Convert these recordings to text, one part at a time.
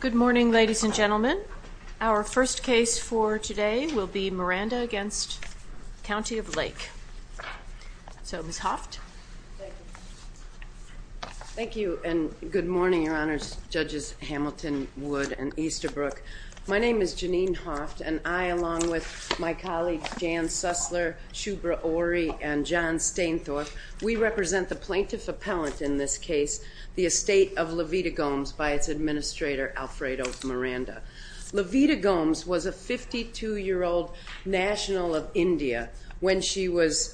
Good morning, ladies and gentlemen. Our first case for today will be Miranda v. County of Lake. So, Ms. Hoft? Thank you, and good morning, Your Honors, Judges Hamilton, Wood, and Easterbrook. My name is Janine Hoft, and I, along with my colleagues Jan Susler, Shubra Ori, and John Stainthorpe, we represent the plaintiff appellant in this case, the estate of Levita Gomes by its administrator, Alfredo Miranda. Levita Gomes was a 52-year-old national of India when she was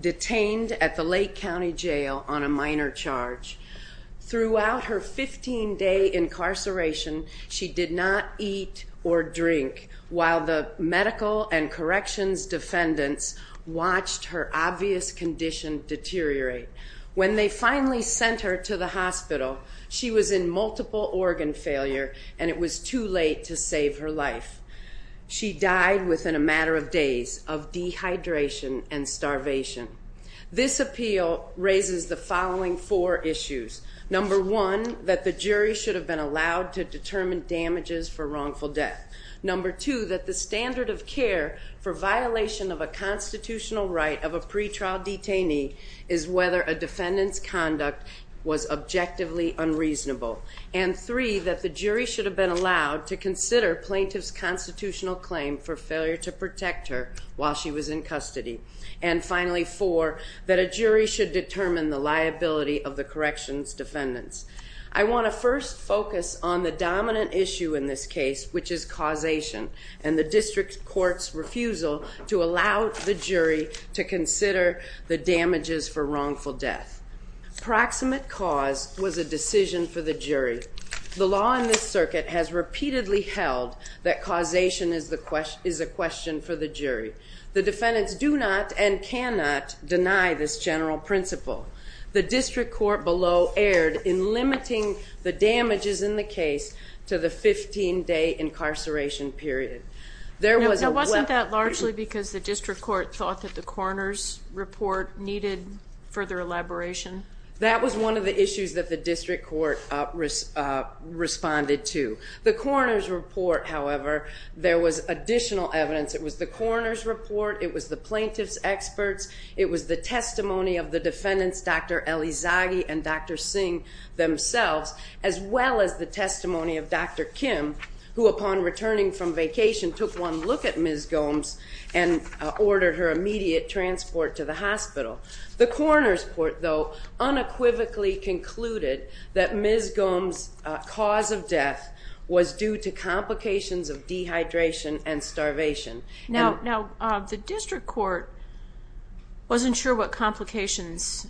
detained at the Lake County Jail on a minor charge. Throughout her 15-day incarceration, she did not eat or drink, while the medical and corrections defendants watched her obvious condition deteriorate. When they finally sent her to the hospital, she was in multiple organ failure, and it was too late to save her life. She died within a matter of days of dehydration and starvation. This appeal raises the following four issues. Number one, that the jury should have been allowed to determine damages for wrongful death. Number two, that the standard of care for violation of a constitutional right of a pretrial detainee is whether a defendant's conduct was objectively unreasonable. And three, that the jury should have been allowed to consider plaintiff's constitutional claim for failure to protect her while she was in custody. And finally, four, that a jury should determine the liability of the corrections defendants. I want to first focus on the dominant issue in this case, which is causation, and the district court's refusal to allow the jury to consider the damages for wrongful death. Proximate cause was a decision for the jury. The law in this circuit has repeatedly held that causation is a question for the jury. The defendants do not and cannot deny this general principle. The district court below erred in limiting the damages in the case to the 15-day incarceration period. Now, wasn't that largely because the district court thought that the coroner's report needed further elaboration? That was one of the issues that the district court responded to. The coroner's report, however, there was additional evidence. It was the coroner's report. It was the plaintiff's experts. It was the testimony of the defendants, Dr. Elizaghi and Dr. Singh themselves, as well as the testimony of Dr. Kim, who, upon returning from vacation, took one look at Ms. Gomes and ordered her immediate transport to the hospital. The coroner's report, though, unequivocally concluded that Ms. Gomes' cause of death was due to complications of dehydration and starvation. Now, the district court wasn't sure what complications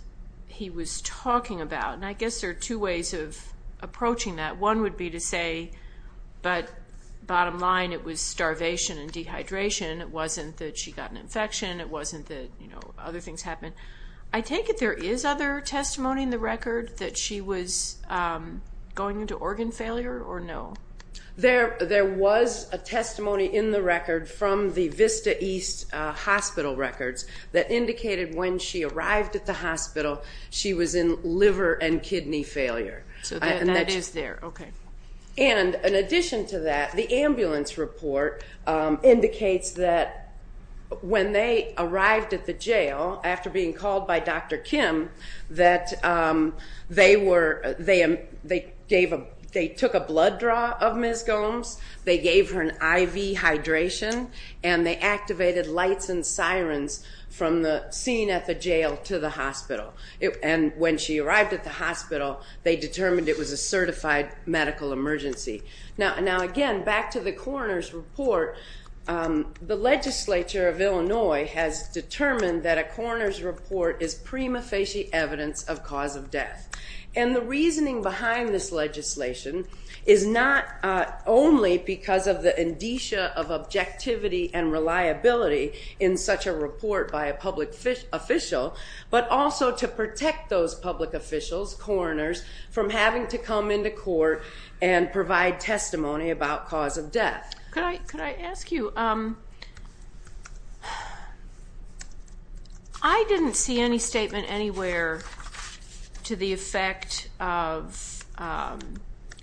he was talking about, and I guess there are two ways of approaching that. One would be to say, but bottom line, it was starvation and dehydration. It wasn't that she got an infection. It wasn't that other things happened. I take it there is other testimony in the record that she was going into organ failure or no? There was a testimony in the record from the Vista East hospital records that indicated when she arrived at the hospital she was in liver and kidney failure. So that is there. Okay. And in addition to that, the ambulance report indicates that when they arrived at the jail, after being called by Dr. Kim, that they took a blood draw of Ms. Gomes, they gave her an IV hydration, and they activated lights and sirens from the scene at the jail to the hospital. And when she arrived at the hospital, they determined it was a certified medical emergency. Now, again, back to the coroner's report, the legislature of Illinois has determined that a coroner's report is prima facie evidence of cause of death. And the reasoning behind this legislation is not only because of the indicia of objectivity and reliability in such a report by a public official, but also to protect those public officials, coroners, from having to come into court and provide testimony about cause of death. Could I ask you, I didn't see any statement anywhere to the effect of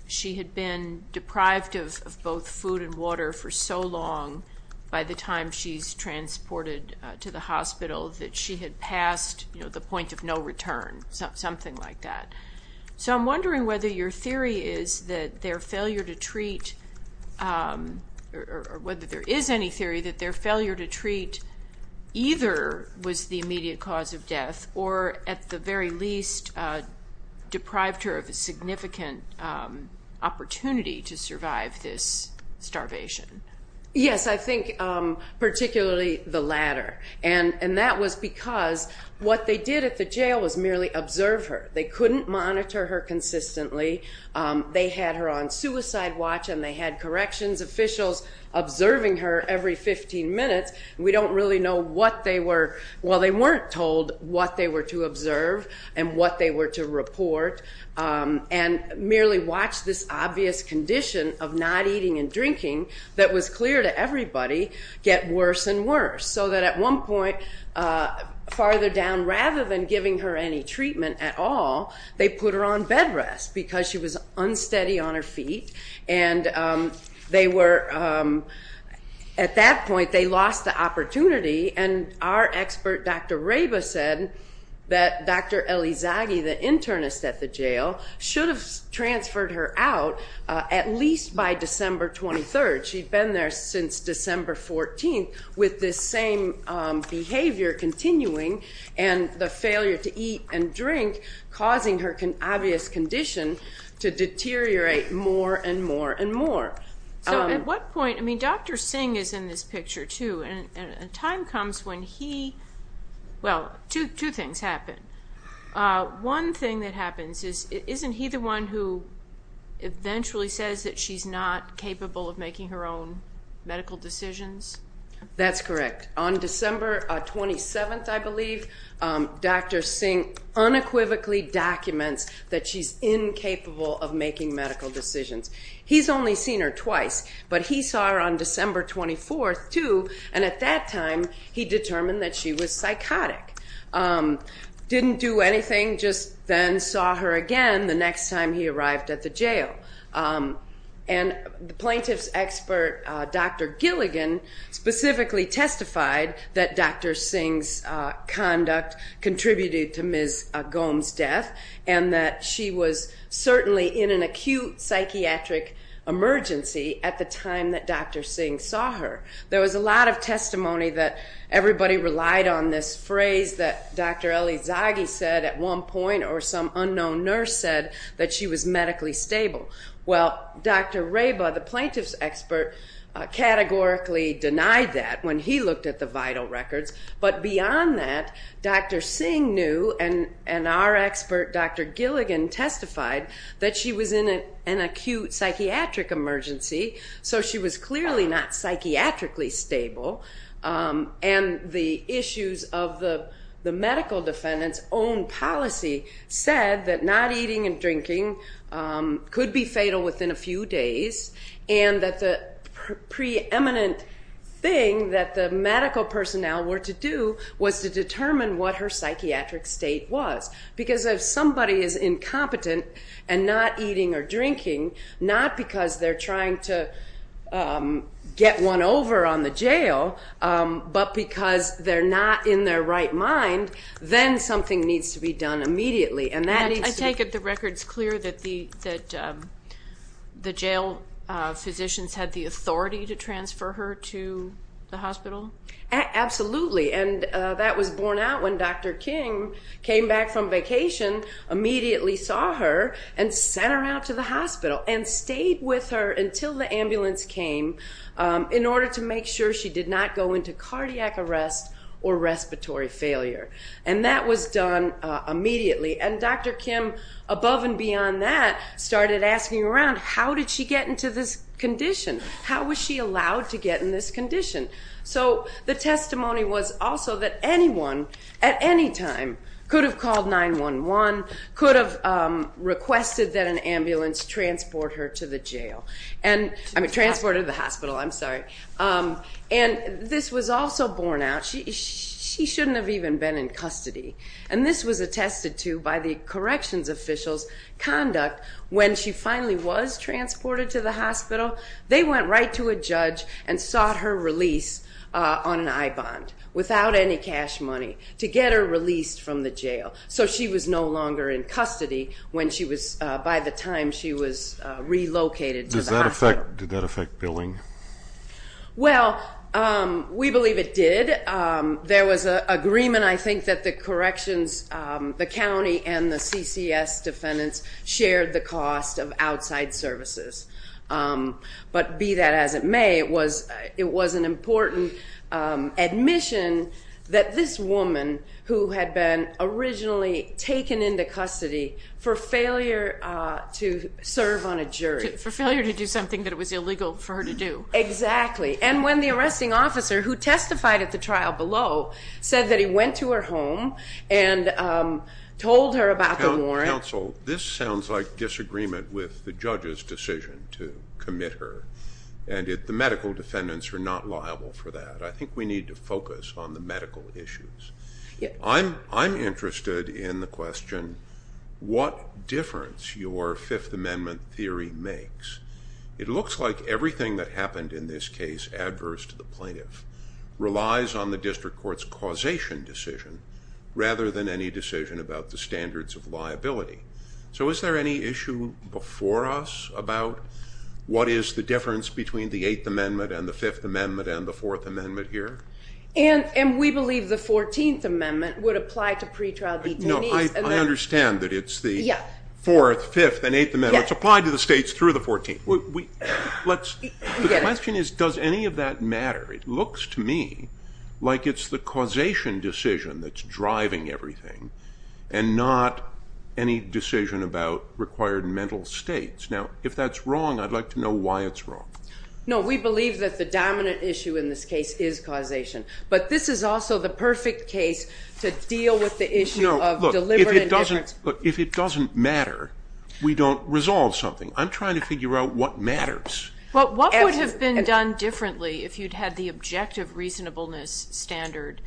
she had been deprived of both food and water for so long by the time she's transported to the hospital that she had passed the point of no return, something like that. So I'm wondering whether your theory is that their failure to treat, or whether there is any theory that their failure to treat either was the immediate cause of death or at the very least deprived her of a significant opportunity to survive this starvation. Yes, I think particularly the latter. And that was because what they did at the jail was merely observe her. They couldn't monitor her consistently. They had her on suicide watch and they had corrections officials observing her every 15 minutes. We don't really know what they were, well they weren't told what they were to observe and what they were to report. And merely watch this obvious condition of not eating and drinking, that was clear to everybody, get worse and worse. So that at one point, farther down, rather than giving her any treatment at all, they put her on bed rest because she was unsteady on her feet. And they were, at that point they lost the opportunity. And our expert, Dr. Reba, said that Dr. Elizaghi, the internist at the jail, should have transferred her out at least by December 23rd. She'd been there since December 14th with this same behavior continuing and the failure to eat and drink causing her obvious condition to deteriorate more and more and more. So at what point, I mean Dr. Singh is in this picture too, and a time comes when he, well two things happen. One thing that happens is isn't he the one who eventually says that she's not capable of making her own medical decisions? That's correct. On December 27th, I believe, Dr. Singh unequivocally documents that she's incapable of making medical decisions. He's only seen her twice, but he saw her on December 24th too, and at that time he determined that she was psychotic. Didn't do anything, just then saw her again the next time he arrived at the jail. And the plaintiff's expert, Dr. Gilligan, specifically testified that Dr. Singh's conduct contributed to Ms. Gomes' death and that she was certainly in an acute psychiatric emergency at the time that Dr. Singh saw her. There was a lot of testimony that everybody relied on this phrase that Dr. Elizaghi said at one point or some unknown nurse said that she was medically stable. Well, Dr. Reba, the plaintiff's expert, categorically denied that when he looked at the vital records. But beyond that, Dr. Singh knew and our expert, Dr. Gilligan, testified that she was in an acute psychiatric emergency, so she was clearly not psychiatrically stable. And the issues of the medical defendant's own policy said that not eating and drinking could be fatal within a few days and that the preeminent thing that the medical personnel were to do was to determine what her psychiatric state was. Because if somebody is incompetent and not eating or drinking, not because they're trying to get one over on the jail, but because they're not in their right mind, then something needs to be done immediately. I take it the record's clear that the jail physicians had the authority to transfer her to the hospital? Absolutely, and that was borne out when Dr. King came back from vacation, immediately saw her and sent her out to the hospital and stayed with her until the ambulance came in order to make sure she did not go into cardiac arrest or respiratory failure. And that was done immediately. And Dr. Kim, above and beyond that, started asking around, how did she get into this condition? How was she allowed to get in this condition? So the testimony was also that anyone at any time could have called 911, could have requested that an ambulance transport her to the hospital. And this was also borne out. She shouldn't have even been in custody. And this was attested to by the corrections officials' conduct. When she finally was transported to the hospital, they went right to a judge and sought her release on an I-bond, without any cash money, to get her released from the jail. So she was no longer in custody by the time she was relocated to the hospital. Did that affect billing? Well, we believe it did. There was an agreement, I think, that the corrections, the county and the CCS defendants shared the cost of outside services. But be that as it may, it was an important admission that this woman, who had been originally taken into custody for failure to serve on a jury. For failure to do something that it was illegal for her to do. Exactly. And when the arresting officer, who testified at the trial below, said that he went to her home and told her about the warrant. Counsel, this sounds like disagreement with the judge's decision to commit her. And the medical defendants are not liable for that. I think we need to focus on the medical issues. I'm interested in the question, what difference your Fifth Amendment theory makes? It looks like everything that happened in this case adverse to the plaintiff relies on the district court's causation decision, rather than any decision about the standards of liability. So is there any issue before us about what is the difference between the Eighth Amendment and the Fifth Amendment and the Fourth Amendment here? And we believe the Fourteenth Amendment would apply to pretrial detainees. No, I understand that it's the Fourth, Fifth, and Eighth Amendment. It's applied to the states through the Fourteenth. The question is, does any of that matter? It looks to me like it's the causation decision that's driving everything and not any decision about required mental states. Now, if that's wrong, I'd like to know why it's wrong. No, we believe that the dominant issue in this case is causation. But this is also the perfect case to deal with the issue of deliberate efforts. No, look, if it doesn't matter, we don't resolve something. I'm trying to figure out what matters. Well, what would have been done differently if you'd had the objective reasonableness standard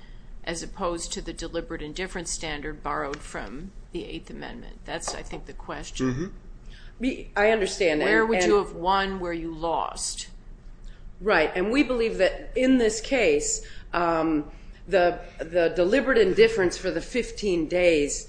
as opposed to the deliberate indifference standard borrowed from the Eighth Amendment? That's, I think, the question. I understand. Where would you have won? Where you lost? Right. And we believe that in this case, the deliberate indifference for the 15 days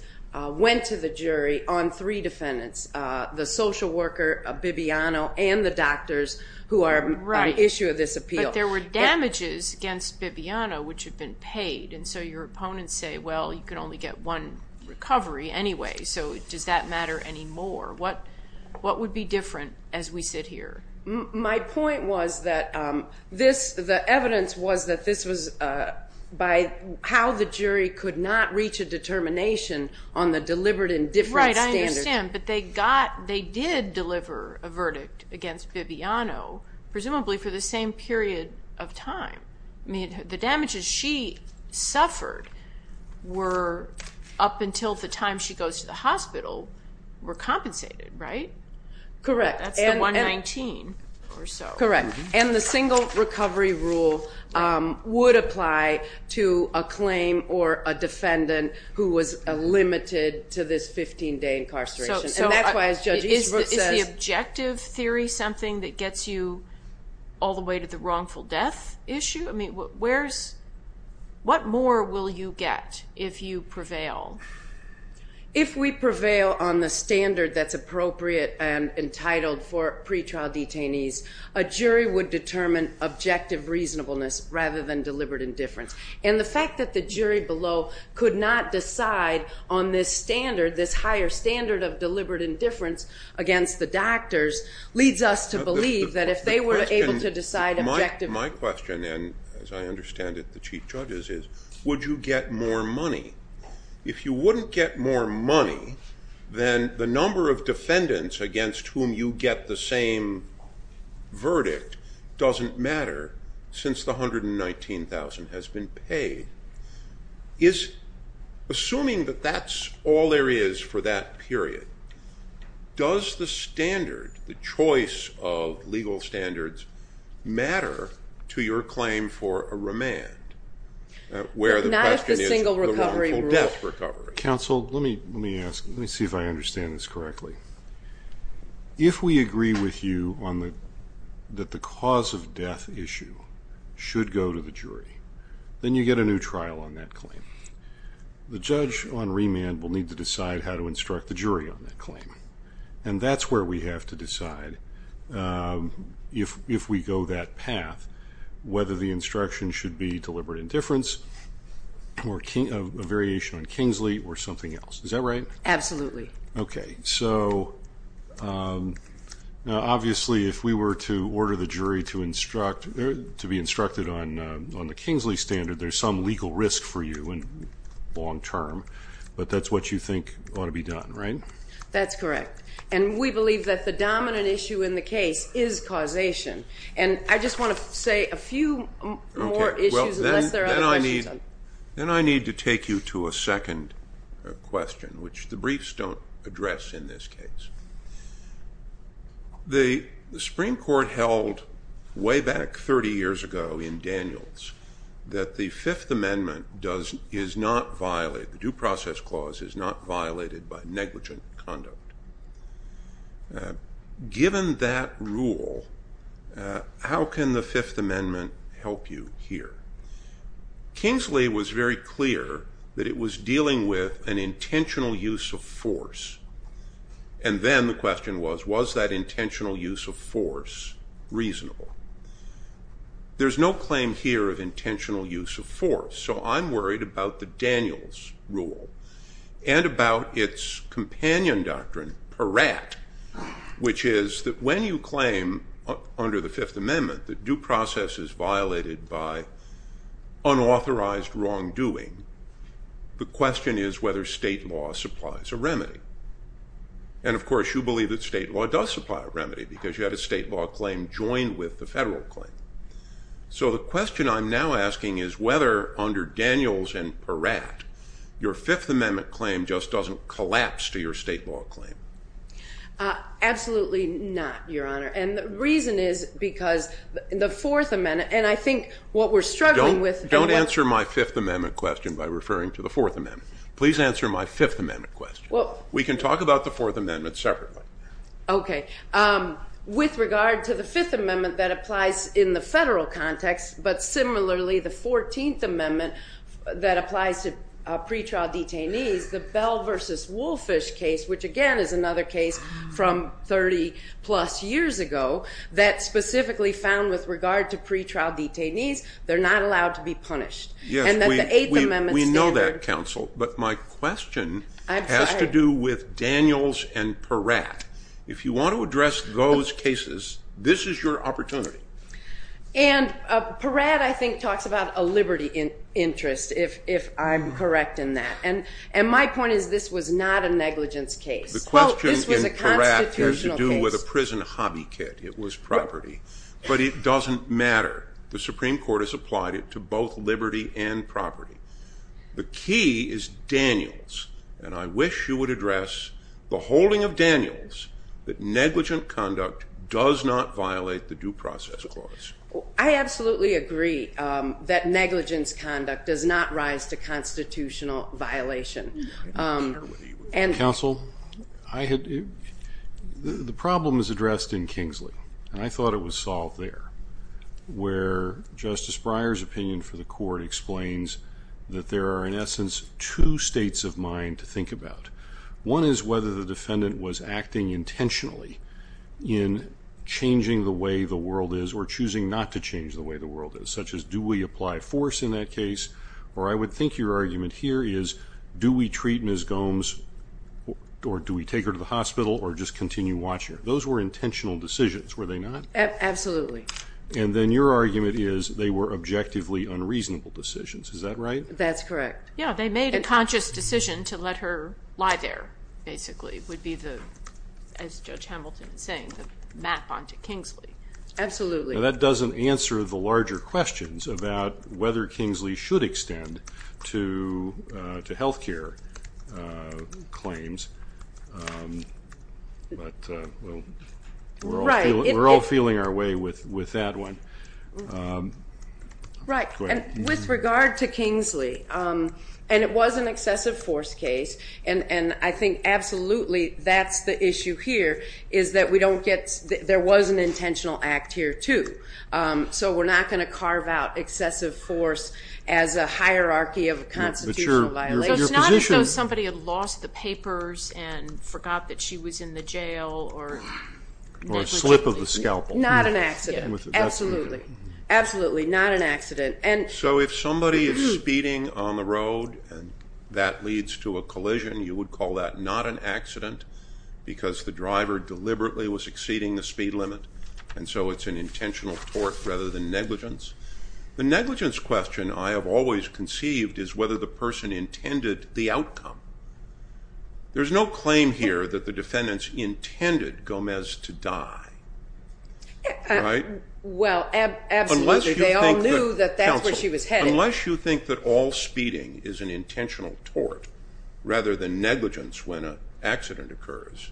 went to the jury on three defendants, the social worker, Bibiano, and the doctors who are at issue of this appeal. But there were damages against Bibiano which had been paid, and so your opponents say, well, you can only get one recovery anyway, so does that matter anymore? What would be different as we sit here? My point was that the evidence was that this was by how the jury could not reach a determination on the deliberate indifference standard. I understand, but they did deliver a verdict against Bibiano, presumably for the same period of time. I mean, the damages she suffered were up until the time she goes to the hospital were compensated, right? Correct. That's the 119 or so. Correct. And the single recovery rule would apply to a claim or a defendant who was limited to this 15-day incarceration. And that's why, as Judge Eastbrook says- Is the objective theory something that gets you all the way to the wrongful death issue? I mean, what more will you get if you prevail? If we prevail on the standard that's appropriate and entitled for pretrial detainees, a jury would determine objective reasonableness rather than deliberate indifference. And the fact that the jury below could not decide on this standard, this higher standard of deliberate indifference against the doctors, leads us to believe that if they were able to decide objectively- My question, and as I understand it, the Chief Judge's, is would you get more money? If you wouldn't get more money, then the number of defendants against whom you get the same verdict doesn't matter since the $119,000 has been paid. Assuming that that's all there is for that period, does the standard, the choice of legal standards, matter to your claim for a remand? Not if the single recovery rule- Counsel, let me see if I understand this correctly. If we agree with you that the cause of death issue should go to the jury, then you get a new trial on that claim. The judge on remand will need to decide how to instruct the jury on that claim. And that's where we have to decide, if we go that path, whether the instruction should be deliberate indifference or a variation on Kingsley or something else. Is that right? Absolutely. Okay. So obviously if we were to order the jury to be instructed on the Kingsley standard, there's some legal risk for you in the long term, but that's what you think ought to be done, right? That's correct. And we believe that the dominant issue in the case is causation. And I just want to say a few more issues unless there are other questions. Then I need to take you to a second question, which the briefs don't address in this case. The Supreme Court held way back 30 years ago in Daniels that the Fifth Amendment is not violated, the Due Process Clause is not violated by negligent conduct. Given that rule, how can the Fifth Amendment help you here? Kingsley was very clear that it was dealing with an intentional use of force. And then the question was, was that intentional use of force reasonable? There's no claim here of intentional use of force. So I'm worried about the Daniels rule and about its companion doctrine, Peratt, which is that when you claim under the Fifth Amendment that due process is violated by unauthorized wrongdoing, the question is whether state law supplies a remedy. And, of course, you believe that state law does supply a remedy because you had a state law claim joined with the federal claim. So the question I'm now asking is whether under Daniels and Peratt, your Fifth Amendment claim just doesn't collapse to your state law claim. Absolutely not, Your Honor. And the reason is because the Fourth Amendment, and I think what we're struggling with- Don't answer my Fifth Amendment question by referring to the Fourth Amendment. Please answer my Fifth Amendment question. We can talk about the Fourth Amendment separately. Okay. With regard to the Fifth Amendment that applies in the federal context, but similarly the Fourteenth Amendment that applies to pretrial detainees, the Bell v. Wolfish case, which again is another case from 30-plus years ago, that specifically found with regard to pretrial detainees, they're not allowed to be punished. And that the Eighth Amendment standard- If you want to address those cases, this is your opportunity. And Peratt, I think, talks about a liberty interest, if I'm correct in that. And my point is this was not a negligence case. The question in Peratt has to do with a prison hobby kit. It was property. But it doesn't matter. The Supreme Court has applied it to both liberty and property. The key is Daniels, and I wish you would address the holding of Daniels that negligent conduct does not violate the Due Process Clause. I absolutely agree that negligence conduct does not rise to constitutional violation. Counsel, the problem is addressed in Kingsley, and I thought it was solved there, where Justice Breyer's opinion for the court explains that there are, in essence, two states of mind to think about. One is whether the defendant was acting intentionally in changing the way the world is or choosing not to change the way the world is, such as do we apply force in that case? Or I would think your argument here is do we treat Ms. Gomes or do we take her to the hospital or just continue watching her? Those were intentional decisions, were they not? Absolutely. And then your argument is they were objectively unreasonable decisions. Is that right? That's correct. Yeah, they made a conscious decision to let her lie there, basically, would be the, as Judge Hamilton is saying, the map onto Kingsley. Absolutely. Now, that doesn't answer the larger questions about whether Kingsley should extend to health care claims, but we're all feeling our way with that one. Right. And with regard to Kingsley, and it was an excessive force case, and I think absolutely that's the issue here, is that we don't get, there was an intentional act here, too. So we're not going to carve out excessive force as a hierarchy of a constitutional violation. It's not as though somebody had lost the papers and forgot that she was in the jail or negligently. Or a slip of the scalpel. Not an accident. Absolutely. Absolutely, not an accident. So if somebody is speeding on the road and that leads to a collision, you would call that not an accident because the driver deliberately was exceeding the speed limit, and so it's an intentional tort rather than negligence. The negligence question I have always conceived is whether the person intended the outcome. There's no claim here that the defendants intended Gomez to die, right? Well, absolutely. They all knew that that's where she was headed. Unless you think that all speeding is an intentional tort rather than negligence when an accident occurs,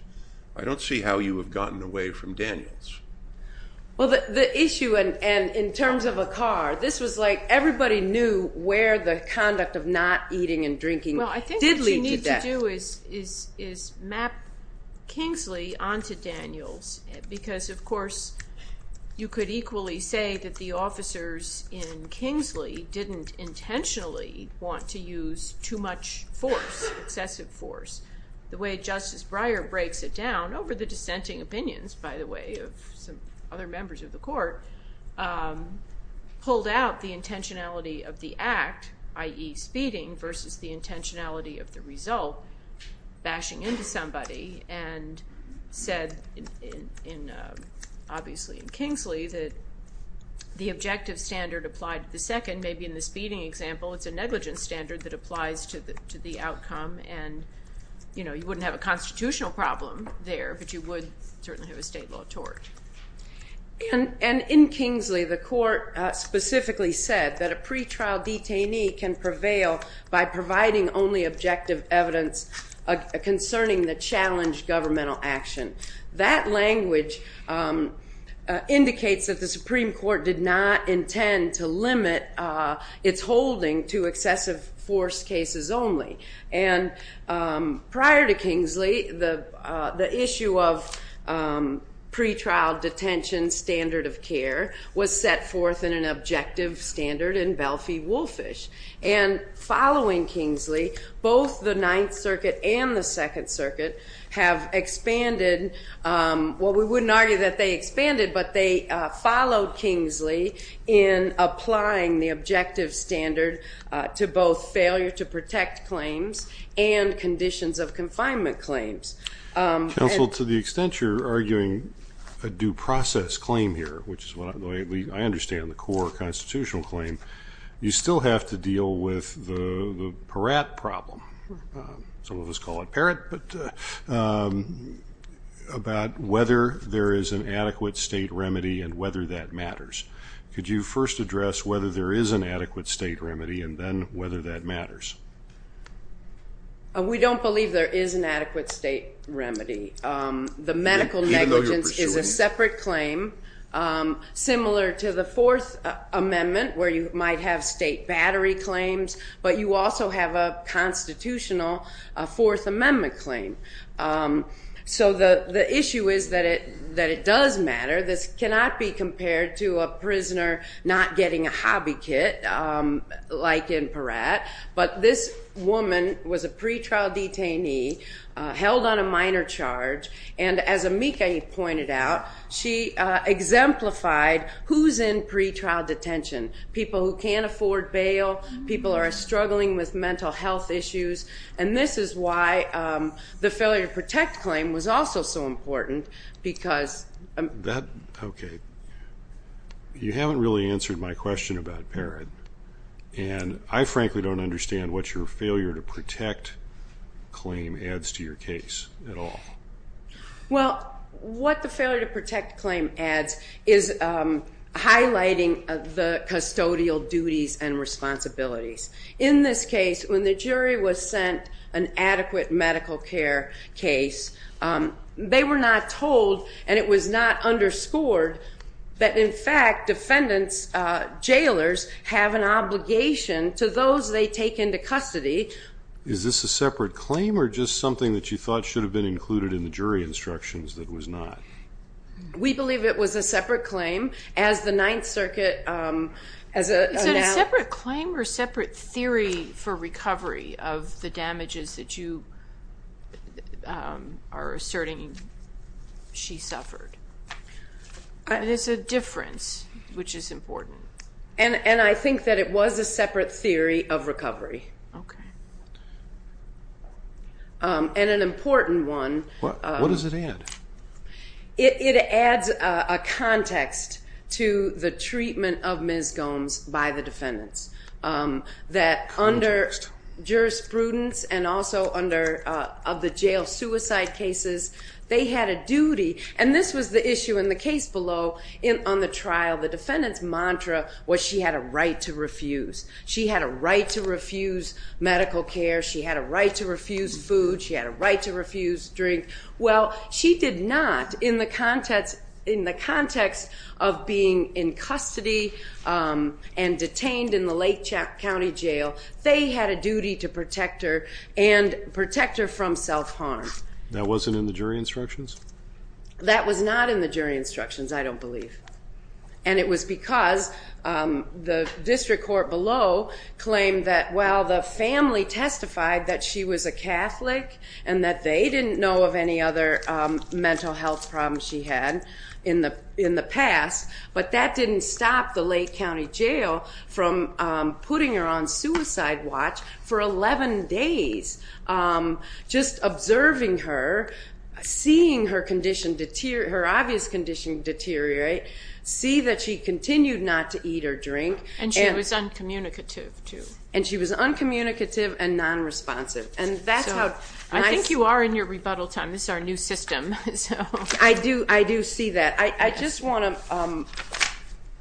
I don't see how you have gotten away from Daniels. Well, the issue in terms of a car, this was like everybody knew where the conduct of not eating and drinking did lead to death. Well, I think what you need to do is map Kingsley onto Daniels because, of course, you could equally say that the officers in Kingsley didn't intentionally want to use too much force, excessive force. The way Justice Breyer breaks it down over the dissenting opinions, by the way, of some other members of the court, pulled out the intentionality of the act, i.e. speeding, versus the intentionality of the result, bashing into somebody and said, obviously in Kingsley, that the objective standard applied to the second. Maybe in the speeding example it's a negligence standard that applies to the outcome and you wouldn't have a constitutional problem there, but you would certainly have a state law tort. And in Kingsley, the court specifically said that a pretrial detainee can prevail by providing only objective evidence concerning the challenged governmental action. That language indicates that the Supreme Court did not intend to limit its holding to excessive force cases only. And prior to Kingsley, the issue of pretrial detention standard of care was set forth in an objective standard in Belfie-Wolfish. And following Kingsley, both the Ninth Circuit and the Second Circuit have expanded, well, we wouldn't argue that they expanded, but they followed Kingsley in applying the objective standard to both failure to protect claims and conditions of confinement claims. Counsel, to the extent you're arguing a due process claim here, which is what I understand the core constitutional claim, you still have to deal with the Peratt problem. Some of us call it Peratt, but about whether there is an adequate state remedy and whether that matters. Could you first address whether there is an adequate state remedy and then whether that matters? We don't believe there is an adequate state remedy. The medical negligence is a separate claim similar to the Fourth Amendment where you might have state battery claims, but you also have a constitutional Fourth Amendment claim. So the issue is that it does matter. This cannot be compared to a prisoner not getting a hobby kit like in Peratt, but this woman was a pretrial detainee held on a minor charge, and as Amika pointed out, she exemplified who's in pretrial detention, people who can't afford bail, people who are struggling with mental health issues, and this is why the failure to protect claim was also so important because Okay. You haven't really answered my question about Peratt, and I frankly don't understand what your failure to protect claim adds to your case at all. Well, what the failure to protect claim adds is highlighting the custodial duties and responsibilities. In this case, when the jury was sent an adequate medical care case, they were not told and it was not underscored that, in fact, defendants, jailers, have an obligation to those they take into custody. Is this a separate claim or just something that you thought should have been included in the jury instructions that it was not? We believe it was a separate claim. As the Ninth Circuit announced Is it a separate claim or separate theory for recovery of the damages that you are asserting she suffered? It is a difference, which is important. And I think that it was a separate theory of recovery. Okay. And an important one. What does it add? It adds a context to the treatment of Ms. Gomes by the defendants, that under jurisprudence and also of the jail suicide cases, they had a duty. And this was the issue in the case below on the trial. The defendant's mantra was she had a right to refuse. She had a right to refuse medical care. She had a right to refuse food. She had a right to refuse drink. Well, she did not in the context of being in custody and detained in the Lake County Jail. They had a duty to protect her and protect her from self-harm. That wasn't in the jury instructions? That was not in the jury instructions, I don't believe. And it was because the district court below claimed that, well, the family testified that she was a Catholic and that they didn't know of any other mental health problems she had in the past, but that didn't stop the Lake County Jail from putting her on suicide watch for 11 days, just observing her, seeing her obvious condition deteriorate, see that she continued not to eat or drink. And she was uncommunicative, too. And she was uncommunicative and nonresponsive. I think you are in your rebuttal time. This is our new system. I do see that. I just want to,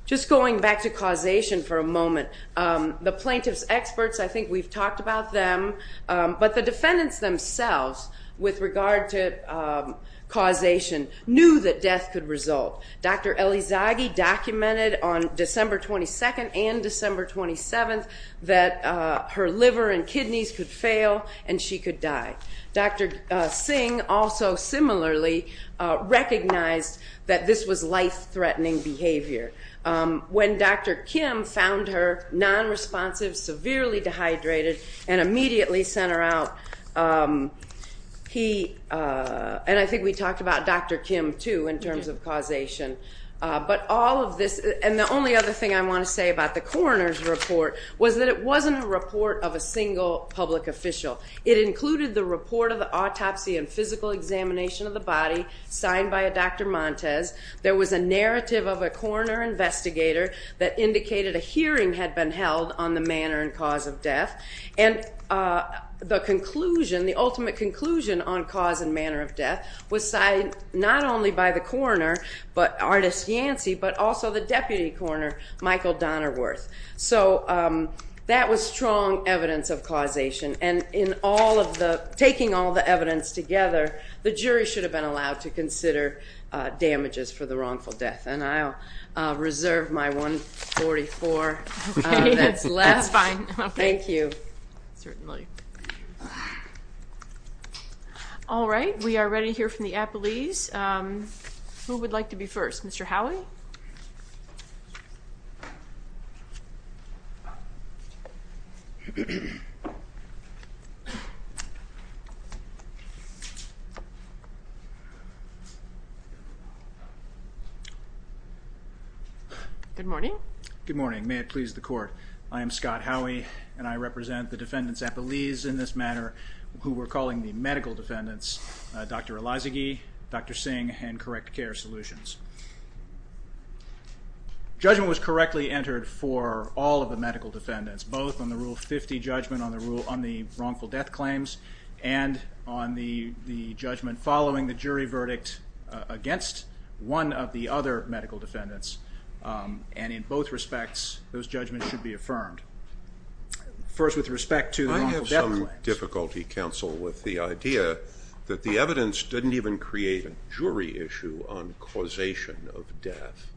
just going back to causation for a moment, the plaintiff's experts, I think we've talked about them, but the defendants themselves with regard to causation knew that death could result. Dr. Elizaghi documented on December 22nd and December 27th that her liver and kidneys could fail and she could die. Dr. Singh also similarly recognized that this was life-threatening behavior. When Dr. Kim found her nonresponsive, severely dehydrated, and immediately sent her out, he, and I think we talked about Dr. Kim, too, in terms of causation. But all of this, and the only other thing I want to say about the coroner's report was that it wasn't a report of a single public official. It included the report of the autopsy and physical examination of the body signed by a Dr. Montes. There was a narrative of a coroner investigator that indicated a hearing had been held on the manner and cause of death. And the conclusion, the ultimate conclusion on cause and manner of death was signed not only by the coroner, Artis Yancy, but also the deputy coroner, Michael Donnerworth. So that was strong evidence of causation. And in taking all the evidence together, the jury should have been allowed to consider damages for the wrongful death. And I'll reserve my 144 that's left. That's fine. Thank you. Certainly. All right. We are ready to hear from the appellees. Who would like to be first? Mr. Howie? Good morning. Good morning. May it please the court, I am Scott Howie, and I represent the defendants' appellees in this matter who we're calling the medical defendants, Dr. Elazighi, Dr. Singh, and Correct Care Solutions. Judgment was correctly entered for all of the medical defendants, both on the Rule 50 judgment on the wrongful death claims and on the judgment following the jury verdict against one of the other medical defendants. And in both respects, those judgments should be affirmed. First, with respect to the wrongful death claims. I have some difficulty, counsel, with the idea that the evidence didn't even create a jury issue on causation of death.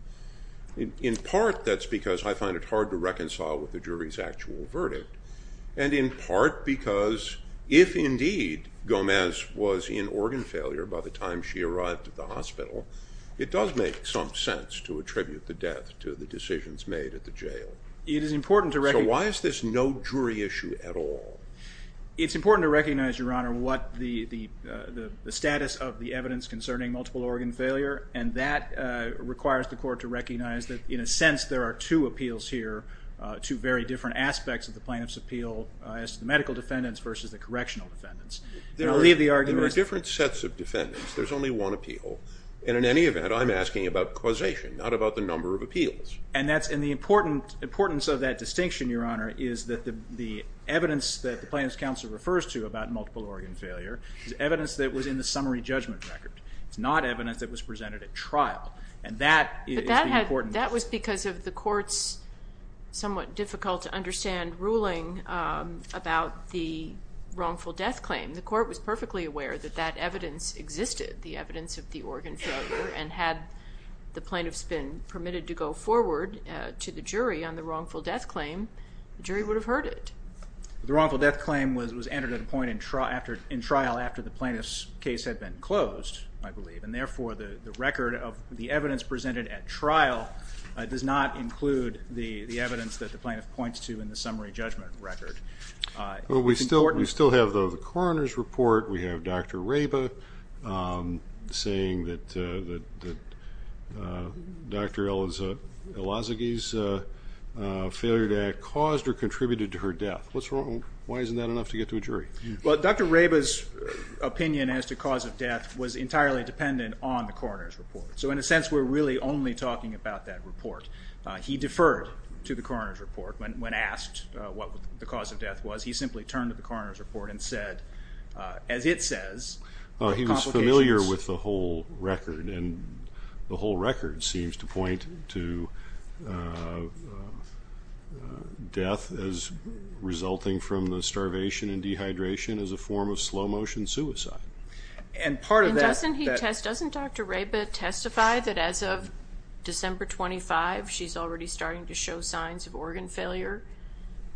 In part, that's because I find it hard to reconcile with the jury's actual verdict, and in part because if indeed Gomez was in organ failure by the time she arrived at the hospital, it does make some sense to attribute the death to the decisions made at the jail. So why is this no jury issue at all? It's important to recognize, Your Honor, the status of the evidence concerning multiple organ failure, and that requires the court to recognize that in a sense there are two appeals here, two very different aspects of the plaintiff's appeal as to the medical defendants versus the correctional defendants. There are different sets of defendants. There's only one appeal. And in any event, I'm asking about causation, not about the number of appeals. And the importance of that distinction, Your Honor, is that the evidence that the plaintiff's counsel refers to about multiple organ failure is evidence that was in the summary judgment record. It's not evidence that was presented at trial, and that is the importance. But that was because of the court's somewhat difficult-to-understand ruling about the wrongful death claim. The court was perfectly aware that that evidence existed, the evidence of the organ failure, and had the plaintiffs been permitted to go forward to the jury on the wrongful death claim, the jury would have heard it. The wrongful death claim was entered at a point in trial after the plaintiff's case had been closed, I believe, and therefore the record of the evidence presented at trial does not include the evidence that the plaintiff points to in the summary judgment record. We still have the coroner's report. We have Dr. Reba saying that Dr. Elazogie's failure to act caused or contributed to her death. Why isn't that enough to get to a jury? Well, Dr. Reba's opinion as to cause of death was entirely dependent on the coroner's report. So in a sense, we're really only talking about that report. He deferred to the coroner's report when asked what the cause of death was. He simply turned to the coroner's report and said, as it says, complications. He was familiar with the whole record, and the whole record seems to point to death as resulting from the starvation and dehydration as a form of slow-motion suicide. And doesn't Dr. Reba testify that as of December 25, she's already starting to show signs of organ failure,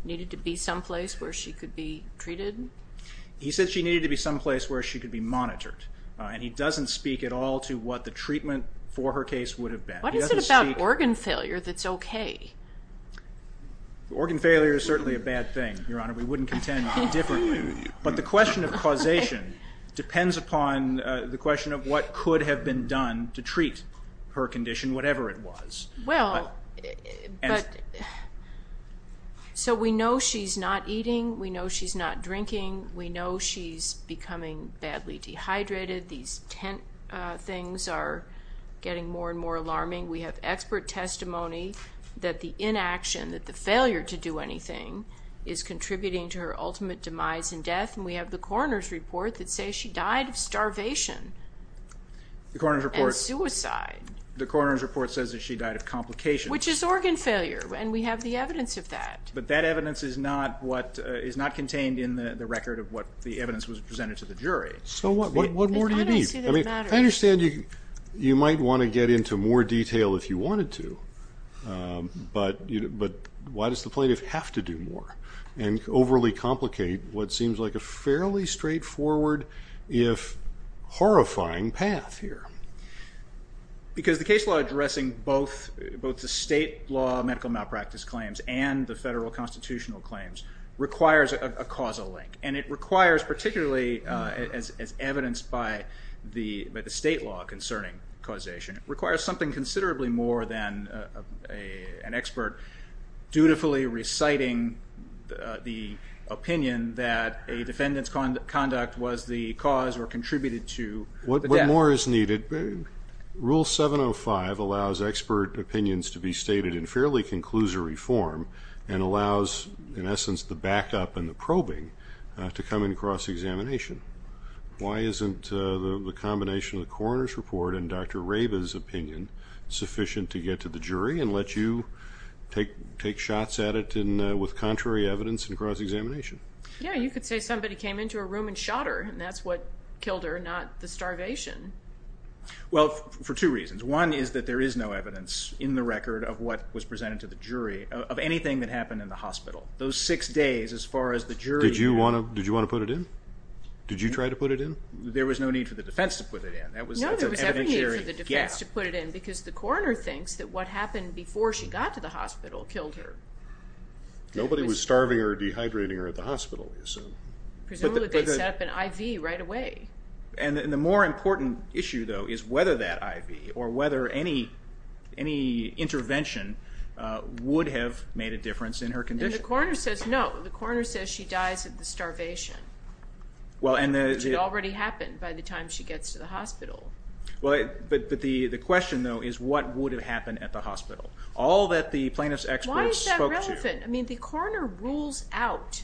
needed to be someplace where she could be treated? He said she needed to be someplace where she could be monitored, and he doesn't speak at all to what the treatment for her case would have been. What is it about organ failure that's okay? Organ failure is certainly a bad thing, Your Honor. We wouldn't contend differently. But the question of causation depends upon the question of what could have been done to treat her condition, whatever it was. So we know she's not eating. We know she's not drinking. We know she's becoming badly dehydrated. These tent things are getting more and more alarming. We have expert testimony that the inaction, that the failure to do anything, is contributing to her ultimate demise and death, and we have the coroner's report that says she died of starvation and suicide. The coroner's report says that she died of complications. Which is organ failure, and we have the evidence of that. But that evidence is not contained in the record of what the evidence was presented to the jury. So what more do you need? I understand you might want to get into more detail if you wanted to, but why does the plaintiff have to do more and overly complicate what seems like a fairly straightforward, if horrifying, path here? Because the case law addressing both the state law medical malpractice claims and the federal constitutional claims requires a causal link, and it requires, particularly as evidenced by the state law concerning causation, it requires something considerably more than an expert dutifully reciting the opinion that a defendant's conduct was the cause or contributed to the death. What more is needed? Rule 705 allows expert opinions to be stated in fairly conclusory form and allows, in essence, the backup and the probing to come into cross-examination. Why isn't the combination of the coroner's report and Dr. Raba's opinion sufficient to get to the jury and let you take shots at it with contrary evidence and cross-examination? Yeah, you could say somebody came into a room and shot her, and that's what killed her, not the starvation. Well, for two reasons. One is that there is no evidence in the record of what was presented to the jury of anything that happened in the hospital. Those six days, as far as the jury... Did you want to put it in? Did you try to put it in? There was no need for the defense to put it in. No, there was no need for the defense to put it in because the coroner thinks that what happened before she got to the hospital killed her. Nobody was starving or dehydrating her at the hospital, we assume. Presumably they set up an IV right away. And the more important issue, though, is whether that IV or whether any intervention would have made a difference in her condition. And the coroner says no. The coroner says she dies of the starvation, which had already happened by the time she gets to the hospital. But the question, though, is what would have happened at the hospital? All that the plaintiff's experts spoke to... Why is that relevant? I mean, the coroner rules out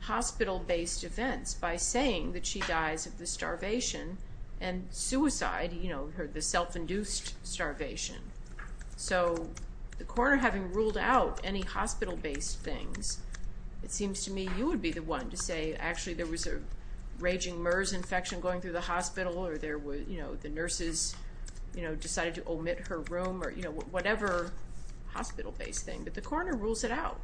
hospital-based events by saying that she dies of the starvation and suicide, the self-induced starvation. So the coroner, having ruled out any hospital-based things, it seems to me you would be the one to say actually there was a raging MERS infection going through the hospital or the nurses decided to omit her room or whatever hospital-based thing. But the coroner rules it out.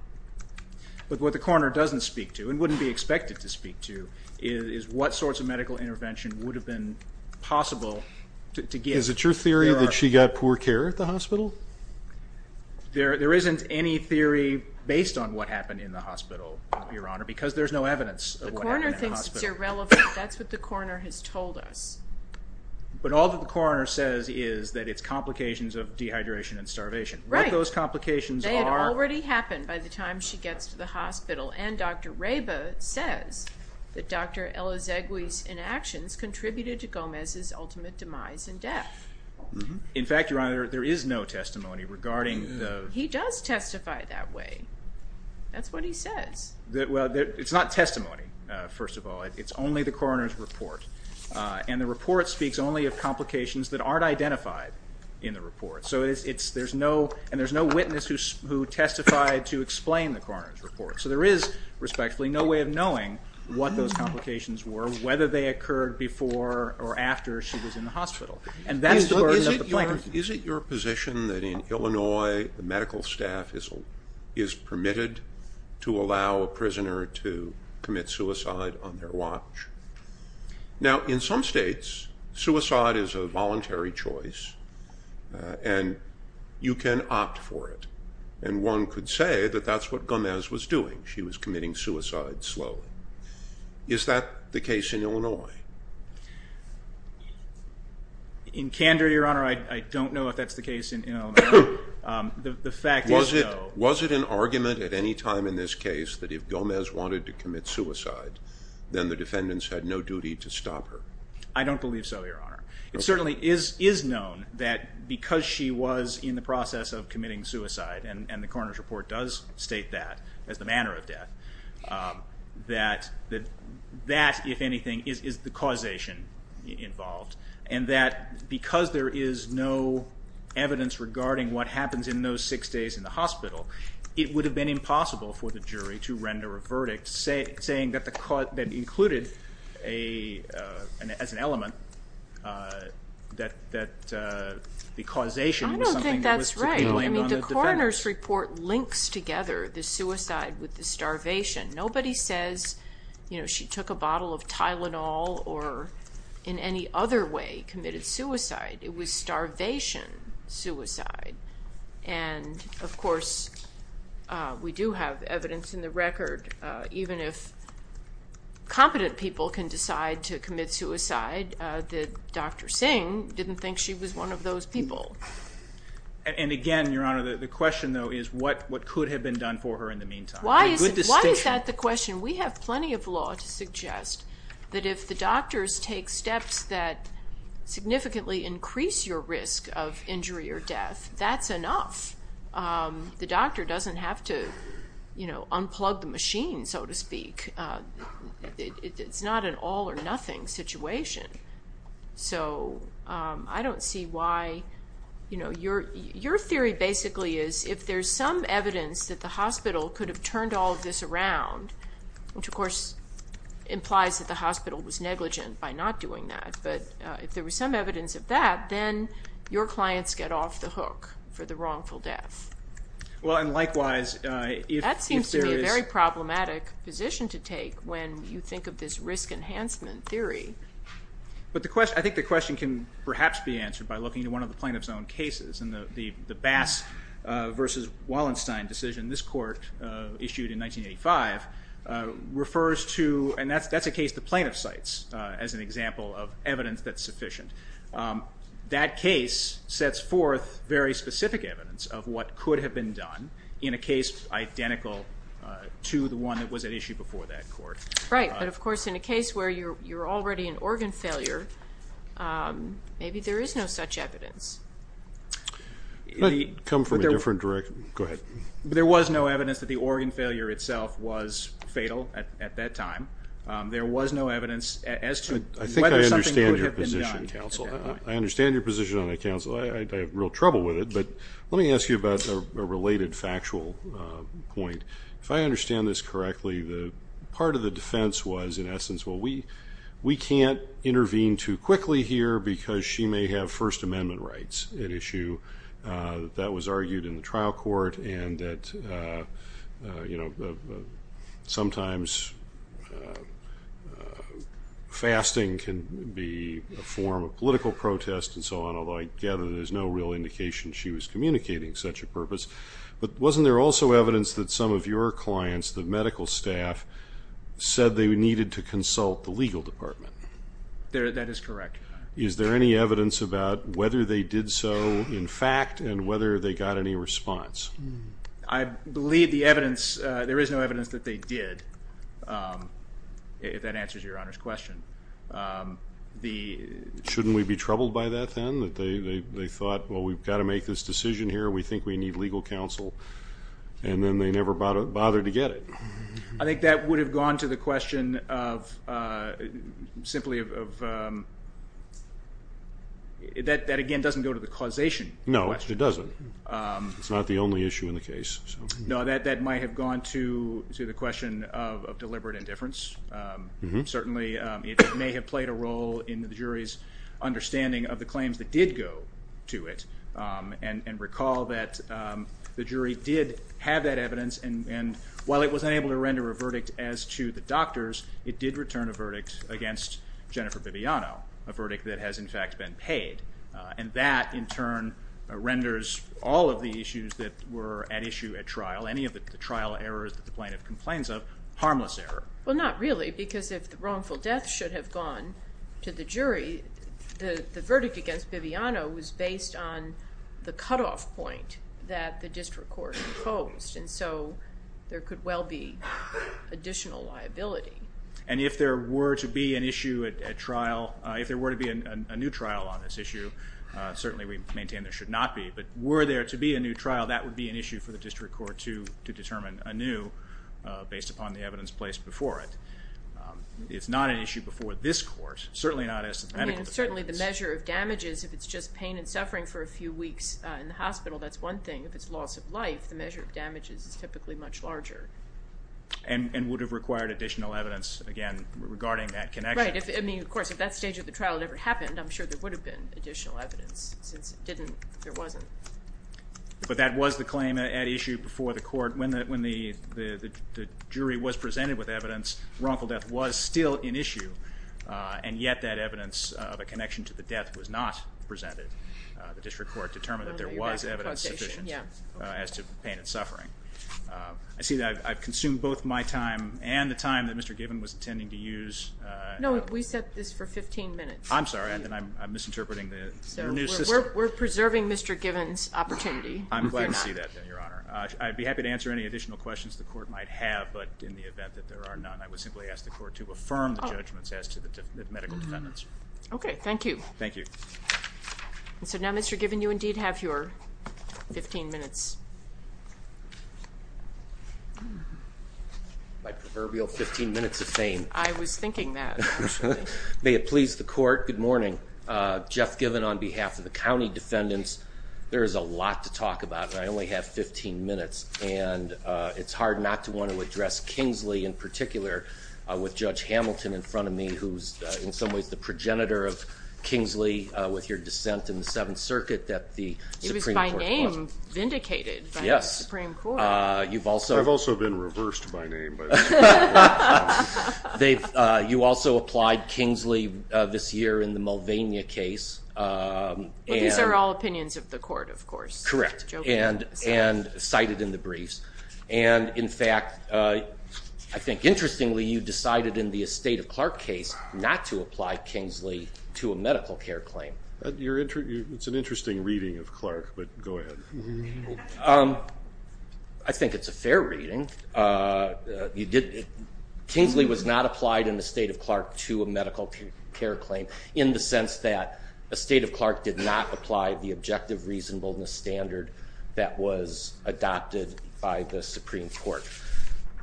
But what the coroner doesn't speak to and wouldn't be expected to speak to is what sorts of medical intervention would have been possible to give. Is it your theory that she got poor care at the hospital? There isn't any theory based on what happened in the hospital, Your Honor, because there's no evidence of what happened in the hospital. The coroner thinks it's irrelevant. That's what the coroner has told us. But all that the coroner says is that it's complications of dehydration and starvation. Right. What those complications are. They had already happened by the time she gets to the hospital. And Dr. Reba says that Dr. Elazegui's inactions contributed to Gomez's ultimate demise and death. In fact, Your Honor, there is no testimony regarding the... He does testify that way. That's what he says. Well, it's not testimony, first of all. It's only the coroner's report. And the report speaks only of complications that aren't identified in the report. And there's no witness who testified to explain the coroner's report. So there is, respectfully, no way of knowing what those complications were, whether they occurred before or after she was in the hospital. And that's the burden of the plaintiff. Is it your position that in Illinois, the medical staff is permitted to allow a prisoner to commit suicide on their watch? Now, in some states, suicide is a voluntary choice. And you can opt for it. And one could say that that's what Gomez was doing. She was committing suicide slowly. Is that the case in Illinois? In candor, Your Honor, I don't know if that's the case in Illinois. The fact is, though... Was it an argument at any time in this case that if Gomez wanted to commit suicide, then the defendants had no duty to stop her? I don't believe so, Your Honor. It certainly is known that because she was in the process of committing suicide, and the coroner's report does state that as the manner of death, that that, if anything, is the causation involved. And that because there is no evidence regarding what happens in those six days in the hospital, it would have been impossible for the jury to render a verdict saying that included as an element that the causation was something that was to be blamed on the defendants. I don't think that's right. I mean, the coroner's report links together the suicide with the starvation. Nobody says, you know, she took a bottle of Tylenol or in any other way committed suicide. It was starvation suicide. And, of course, we do have evidence in the record even if competent people can decide to commit suicide, that Dr. Singh didn't think she was one of those people. And, again, Your Honor, the question, though, is what could have been done for her in the meantime? Why is that the question? We have plenty of law to suggest that if the doctors take steps that significantly increase your risk of injury or death, that's enough. The doctor doesn't have to, you know, unplug the machine, so to speak. It's not an all or nothing situation. So I don't see why, you know, your theory basically is if there's some evidence that the hospital could have turned all of this around, which, of course, implies that the hospital was negligent by not doing that, but if there was some evidence of that, then your clients get off the hook for the wrongful death. Well, and likewise, if there is... That seems to be a very problematic position to take when you think of this risk enhancement theory. But I think the question can perhaps be answered by looking at one of the plaintiff's own cases. And the Bass v. Wallenstein decision this court issued in 1985 refers to, and that's a case the plaintiff cites as an example of evidence that's sufficient. That case sets forth very specific evidence of what could have been done in a case identical to the one that was at issue before that court. Right. But, of course, in a case where you're already an organ failure, maybe there is no such evidence. Could I come from a different direction? Go ahead. There was no evidence that the organ failure itself was fatal at that time. There was no evidence as to whether something could have been done. I understand your position on that, counsel. I have real trouble with it. But let me ask you about a related factual point. If I understand this correctly, part of the defense was, in essence, well, we can't intervene too quickly here because she may have First Amendment rights at issue. That was argued in the trial court. And that sometimes fasting can be a form of political protest and so on, although I gather there's no real indication she was communicating such a purpose. But wasn't there also evidence that some of your clients, the medical staff, said they needed to consult the legal department? That is correct. Is there any evidence about whether they did so in fact and whether they got any response? I believe the evidence, there is no evidence that they did, if that answers your Honor's question. Shouldn't we be troubled by that then, that they thought, well, we've got to make this decision here, we think we need legal counsel, and then they never bothered to get it? I think that would have gone to the question of simply of, that again doesn't go to the causation question. No, it doesn't. It's not the only issue in the case. No, that might have gone to the question of deliberate indifference. Certainly it may have played a role in the jury's understanding of the claims that did go to it and recall that the jury did have that evidence and while it was unable to render a verdict as to the doctors, it did return a verdict against Jennifer Bibiano, a verdict that has in fact been paid, and that in turn renders all of the issues that were at issue at trial, any of the trial errors that the plaintiff complains of, harmless error. Well, not really because if the wrongful death should have gone to the jury, the verdict against Bibiano was based on the cutoff point that the district court proposed, and so there could well be additional liability. And if there were to be an issue at trial, if there were to be a new trial on this issue, certainly we maintain there should not be, but were there to be a new trial, that would be an issue for the district court to determine anew based upon the evidence placed before it. It's not an issue before this court, certainly not as to the medical defense. Certainly the measure of damages, if it's just pain and suffering for a few weeks in the hospital, that's one thing. If it's loss of life, the measure of damages is typically much larger. And would have required additional evidence, again, regarding that connection. Right. I mean, of course, if that stage of the trial had ever happened, I'm sure there would have been additional evidence. Since it didn't, there wasn't. But that was the claim at issue before the court. When the jury was presented with evidence, wrongful death was still an issue, and yet that evidence of a connection to the death was not presented. The district court determined that there was evidence as to pain and suffering. I see that I've consumed both my time and the time that Mr. Gibbons was intending to use. No, we set this for 15 minutes. I'm sorry. I'm misinterpreting the new system. We're preserving Mr. Gibbons' opportunity. I'm glad to see that, Your Honor. I'd be happy to answer any additional questions the court might have, but in the event that there are none, I would simply ask the court to affirm the judgments as to the medical defendants. Okay, thank you. Thank you. So now, Mr. Gibbons, you indeed have your 15 minutes. My proverbial 15 minutes of fame. I was thinking that. May it please the court. Good morning. Jeff Gibbons on behalf of the county defendants. There is a lot to talk about, and I only have 15 minutes. And it's hard not to want to address Kingsley in particular with Judge Hamilton in front of me, who's in some ways the progenitor of Kingsley with your dissent in the Seventh Circuit. It was by name vindicated by the Supreme Court. I've also been reversed by name. You also applied Kingsley this year in the Mulvaney case. These are all opinions of the court, of course. Correct. And cited in the briefs. And, in fact, I think interestingly, you decided in the Estate of Clark case not to apply Kingsley to a medical care claim. It's an interesting reading of Clark, but go ahead. I think it's a fair reading. Kingsley was not applied in Estate of Clark to a medical care claim in the sense that Estate of Clark did not apply the objective reasonableness standard that was adopted by the Supreme Court.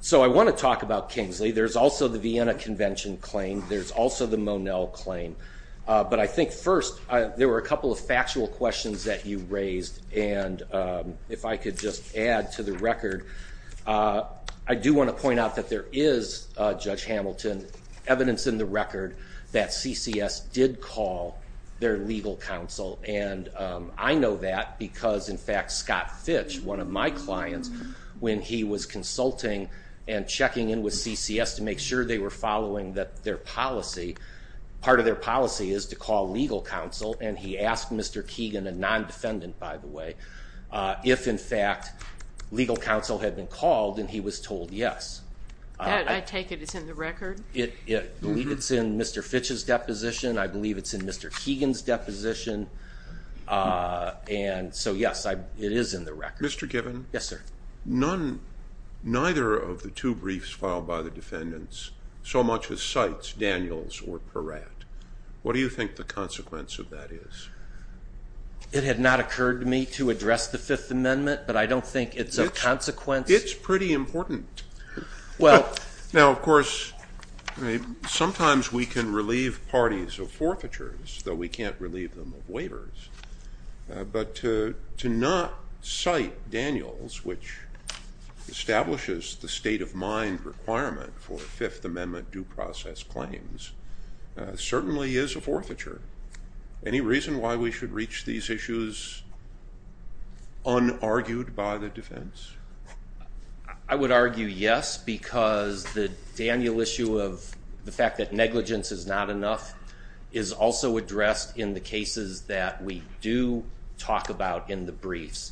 So I want to talk about Kingsley. There's also the Vienna Convention claim. There's also the Monell claim. But I think first there were a couple of factual questions that you raised, and if I could just add to the record, I do want to point out that there is, Judge Hamilton, evidence in the record that CCS did call their legal counsel. And I know that because, in fact, Scott Fitch, one of my clients, when he was consulting and checking in with CCS to make sure they were following their policy, part of their policy is to call legal counsel, and he asked Mr. Keegan, a non-defendant, by the way, if, in fact, legal counsel had been called, and he was told yes. I take it it's in the record? I believe it's in Mr. Fitch's deposition. I believe it's in Mr. Keegan's deposition. And so, yes, it is in the record. Mr. Given? Yes, sir. Neither of the two briefs filed by the defendants so much as cites Daniels or Peratt. What do you think the consequence of that is? It had not occurred to me to address the Fifth Amendment, but I don't think it's of consequence. It's pretty important. Now, of course, sometimes we can relieve parties of forfeitures, though we can't relieve them of waivers. But to not cite Daniels, which establishes the state-of-mind requirement for Fifth Amendment due process claims, certainly is a forfeiture. Any reason why we should reach these issues unargued by the defense? I would argue yes, because the Daniel issue of the fact that negligence is not enough is also addressed in the cases that we do talk about in the briefs.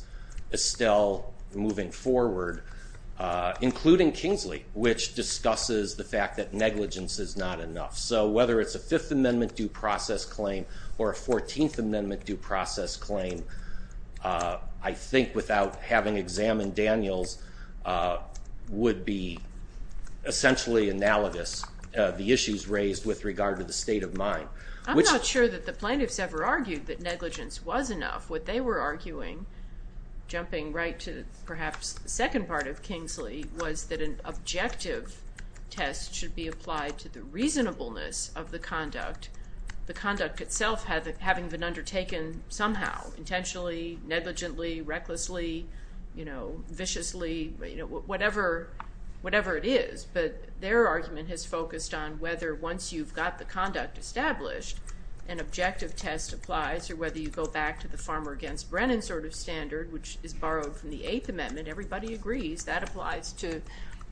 Estelle moving forward, including Kingsley, which discusses the fact that negligence is not enough. So whether it's a Fifth Amendment due process claim or a 14th Amendment due process claim, I would argue that the conduct of the defense of the Daniels would be essentially analogous. The issues raised with regard to the state-of-mind. I'm not sure that the plaintiffs ever argued that negligence was enough, what they were arguing, jumping right to perhaps the second part of Kingsley, was that an objective test should be applied to the reasonableness of the conduct. The conduct itself having been undertaken somehow, intentionally, negligently, recklessly, viciously, whatever it is, but their argument has focused on whether once you've got the conduct established, an objective test applies or whether you go back to the farmer against Brennan sort of standard, which is borrowed from the eighth amendment. Everybody agrees that applies to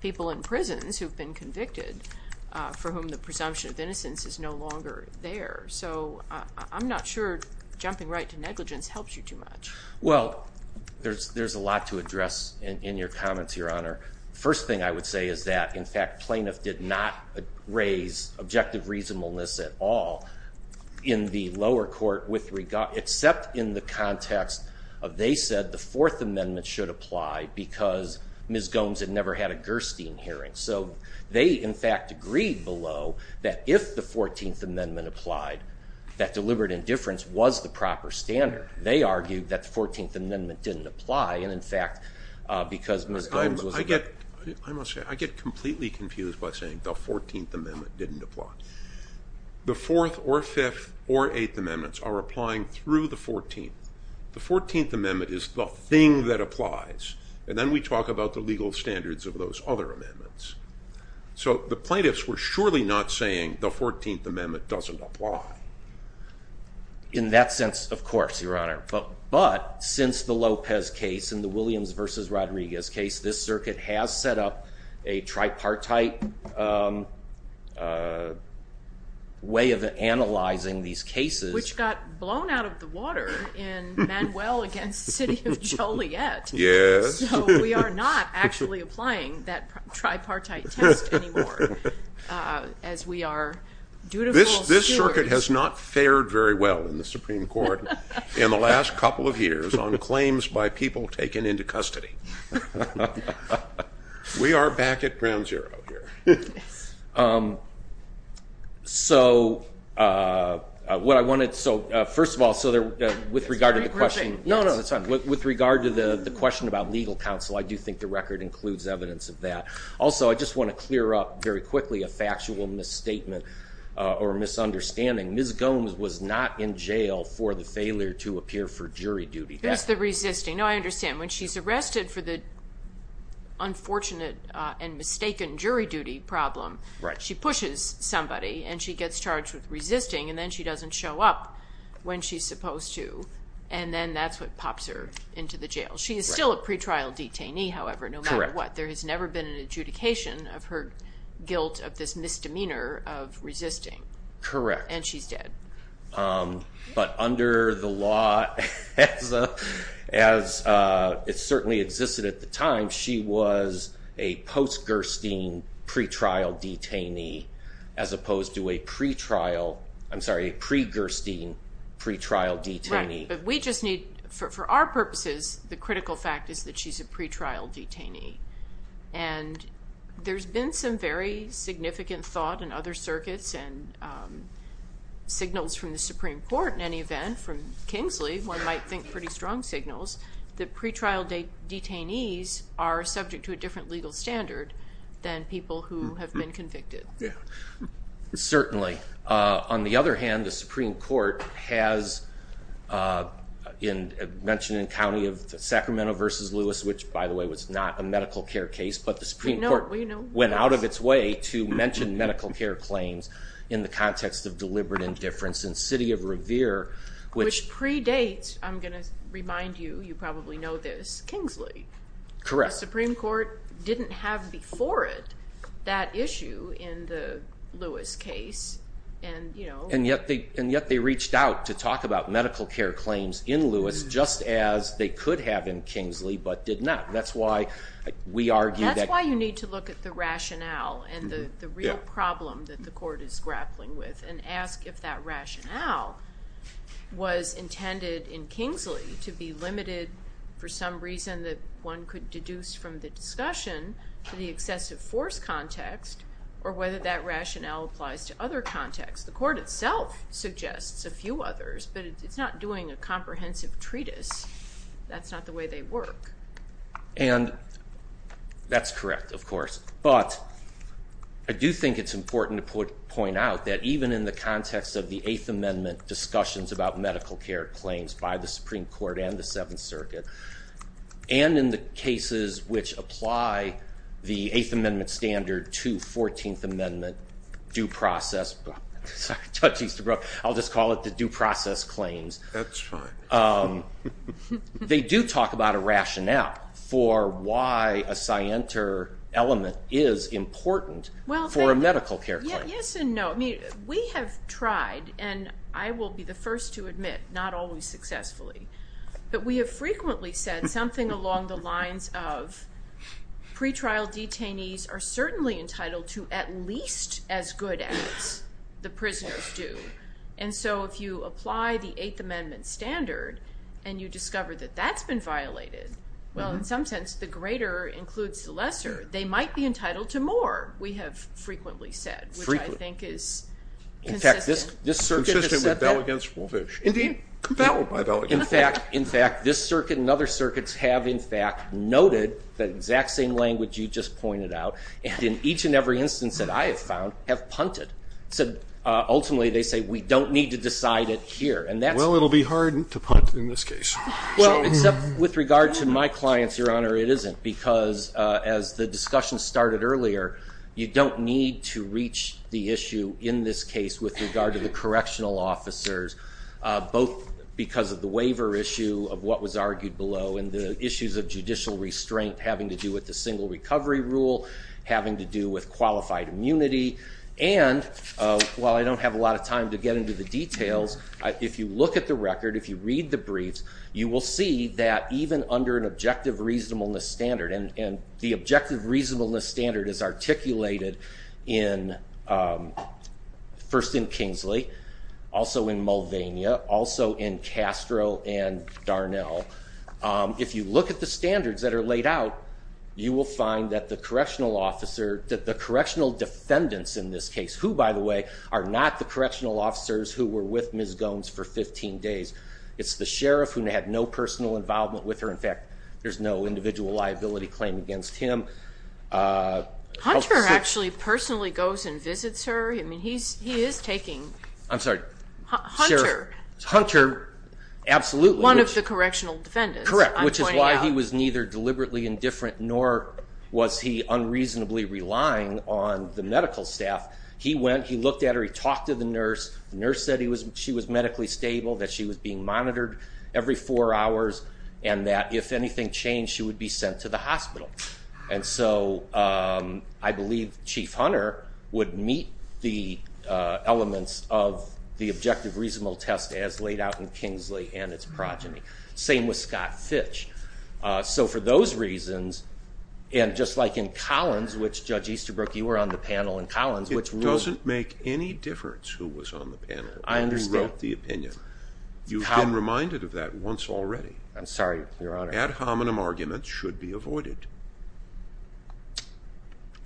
people in prisons who've been convicted for whom the presumption of innocence is no longer there. So I'm not sure jumping right to negligence helps you too much. Well, there's a lot to address in your comments, Your Honor. First thing I would say is that in fact, plaintiff did not raise objective reasonableness at all in the lower court with regard, except in the context of they said the fourth amendment should apply because Ms. Gomes had never had a Gerstein hearing. So they in fact agreed below that if the 14th amendment applied, that deliberate indifference was the proper standard. But they argued that the 14th amendment didn't apply. And in fact, because Ms. Gomes was- I get, I must say, I get completely confused by saying the 14th amendment didn't apply. The fourth or fifth or eighth amendments are applying through the 14th. The 14th amendment is the thing that applies. And then we talk about the legal standards of those other amendments. So the plaintiffs were surely not saying the 14th amendment doesn't apply. In that sense, of course, Your Honor. But since the Lopez case and the Williams versus Rodriguez case, this circuit has set up a tripartite way of analyzing these cases. Which got blown out of the water in Manuel against the city of Joliet. Yes. So we are not actually applying that tripartite test anymore. As we are dutiful stewards- This circuit has not fared very well in the Supreme Court in the last couple of years on claims by people taken into custody. We are back at ground zero here. So what I wanted- So first of all, with regard to the question- No, no, that's fine. With regard to the question about legal counsel, I do think the record includes evidence of that. Also, I just want to clear up very quickly a factual misstatement or misunderstanding. Ms. Gomes was not in jail for the failure to appear for jury duty. That's the resisting. No, I understand. When she's arrested for the unfortunate and mistaken jury duty problem, she pushes somebody and she gets charged with resisting. And then she doesn't show up when she's supposed to. And then that's what pops her into the jail. She is still a pretrial detainee, however, no matter what. There has never been an adjudication of her guilt of this misdemeanor of resisting. Correct. And she's dead. But under the law, as it certainly existed at the time, she was a post-Gerstein pretrial detainee as opposed to a pretrial- I'm sorry, a pre-Gerstein pretrial detainee. Right. But we just need, for our purposes, the critical fact is that she's a pretrial detainee. And there's been some very significant thought in other circuits and signals from the Supreme Court, in any event, from Kingsley, one might think pretty strong signals, that pretrial detainees are subject to a different legal standard than people who have been convicted. Yeah, certainly. On the other hand, the Supreme Court has mentioned in the county of Sacramento v. Lewis, which, by the way, was not a medical care case, but the Supreme Court went out of its way to mention medical care claims in the context of deliberate indifference. In the city of Revere, which- Which predates, I'm going to remind you, you probably know this, Kingsley. Correct. The Supreme Court didn't have before it that issue in the Lewis case, and you know- And yet they reached out to talk about medical care claims in Lewis, just as they could have in Kingsley, but did not. That's why we argue that- That's why you need to look at the rationale and the real problem that the court is grappling with and ask if that rationale was intended in Kingsley to be limited for some reason that one could deduce from the discussion to the excessive force context, or whether that rationale applies to other contexts. The court itself suggests a few others, but it's not doing a comprehensive treatise. That's not the way they work. And that's correct, of course, but I do think it's important to point out that even in the context of the Eighth Amendment discussions about medical care claims by the Supreme Court and the Seventh Circuit, and in the cases which apply the Eighth Amendment standard to Fourteenth Amendment due process, I'll just call it the due process claims. That's fine. They do talk about a rationale for why a scienter element is important for a medical care claim. Yes and no. We have tried, and I will be the first to admit not always successfully, but we have frequently said something along the lines of pretrial detainees are certainly entitled to at least as good as the prisoners do. And so if you apply the Eighth Amendment standard and you discover that that's been violated, well, in some sense, the greater includes the lesser. They might be entitled to more, we have frequently said. Frequently. Which I think is consistent. In fact, this circuit has said that. Consistent with bell against wolfish. Indeed, compelled by bell against wolfish. In fact, this circuit and other circuits have, in fact, noted that exact same language you just pointed out, and in each and every instance that I have found, have punted. Ultimately, they say we don't need to decide it here. Well, it will be hard to punt in this case. Well, except with regard to my clients, Your Honor, it isn't, because as the discussion started earlier, you don't need to reach the issue in this case with regard to the correctional officers, both because of the waiver issue of what was argued below and the issues of judicial restraint having to do with the single recovery rule, having to do with qualified immunity. And while I don't have a lot of time to get into the details, if you look at the record, if you read the briefs, you will see that even under an objective reasonableness standard, and the objective reasonableness standard is articulated in, first in Kingsley, also in Mulvaney, also in Castro and Darnell. If you look at the standards that are laid out, you will find that the correctional officer, that the correctional defendants in this case, who, by the way, are not the correctional officers who were with Ms. Gomes for 15 days. It's the sheriff who had no personal involvement with her. In fact, there's no individual liability claim against him. Hunter actually personally goes and visits her. I mean, he is taking Hunter, one of the correctional defendants. Correct, which is why he was neither deliberately indifferent nor was he unreasonably relying on the medical staff. The nurse said she was medically stable, that she was being monitored every four hours, and that if anything changed, she would be sent to the hospital. And so I believe Chief Hunter would meet the elements of the objective reasonable test as laid out in Kingsley and its progeny. Same with Scott Fitch. So for those reasons, and just like in Collins, which Judge Easterbrook, you were on the panel in Collins. It doesn't make any difference who was on the panel and who wrote the opinion. You've been reminded of that once already. I'm sorry, Your Honor. Ad hominem arguments should be avoided.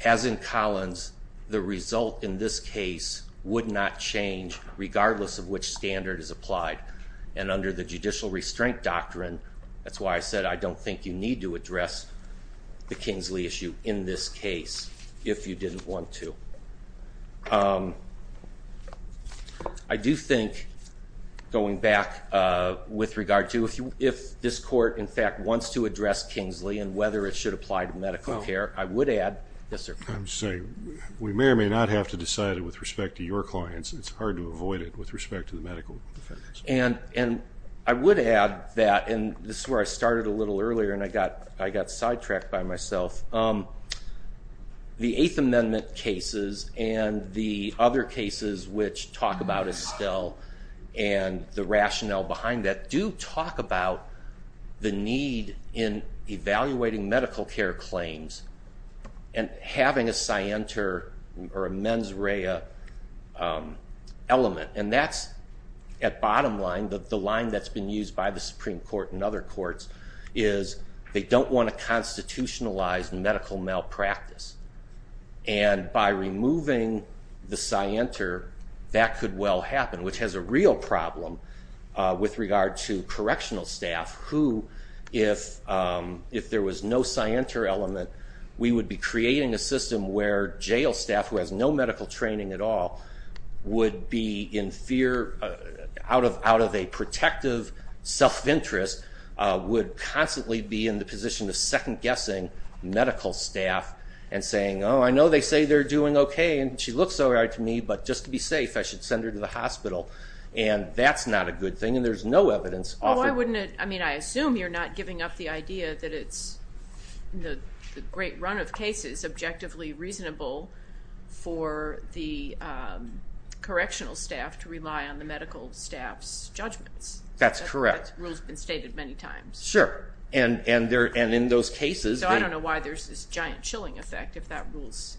As in Collins, the result in this case would not change, regardless of which standard is applied. And under the judicial restraint doctrine, that's why I said, I don't think you need to address the Kingsley issue in this case if you didn't want to. I do think, going back with regard to if this court, in fact, wants to address Kingsley and whether it should apply to medical care, I would add, yes, sir. I'm sorry. We may or may not have to decide it with respect to your clients. It's hard to avoid it with respect to the medical defenders. And I would add that, and this is where I started a little earlier and I got sidetracked by myself, the Eighth Amendment cases and the other cases which talk about Estelle and the rationale behind that do talk about the need in evaluating medical care claims and having a scienter or a mens rea element. And that's, at bottom line, the line that's been used by the Supreme Court and other courts is they don't want to constitutionalize medical malpractice. And by removing the scienter, that could well happen, which has a real problem with regard to correctional staff who, if there was no scienter element, we would be creating a system where jail staff, who has no medical training at all, would be in fear, out of a protective self-interest, would constantly be in the position of second-guessing medical staff and saying, oh, I know they say they're doing okay and she looks all right to me, but just to be safe, I should send her to the hospital. And that's not a good thing, and there's no evidence. Well, why wouldn't it? I mean, I assume you're not giving up the idea that it's, in the great run of cases, objectively reasonable for the correctional staff to rely on the medical staff's judgments. That's correct. That rule's been stated many times. Sure. And in those cases. So I don't know why there's this giant chilling effect if that rule's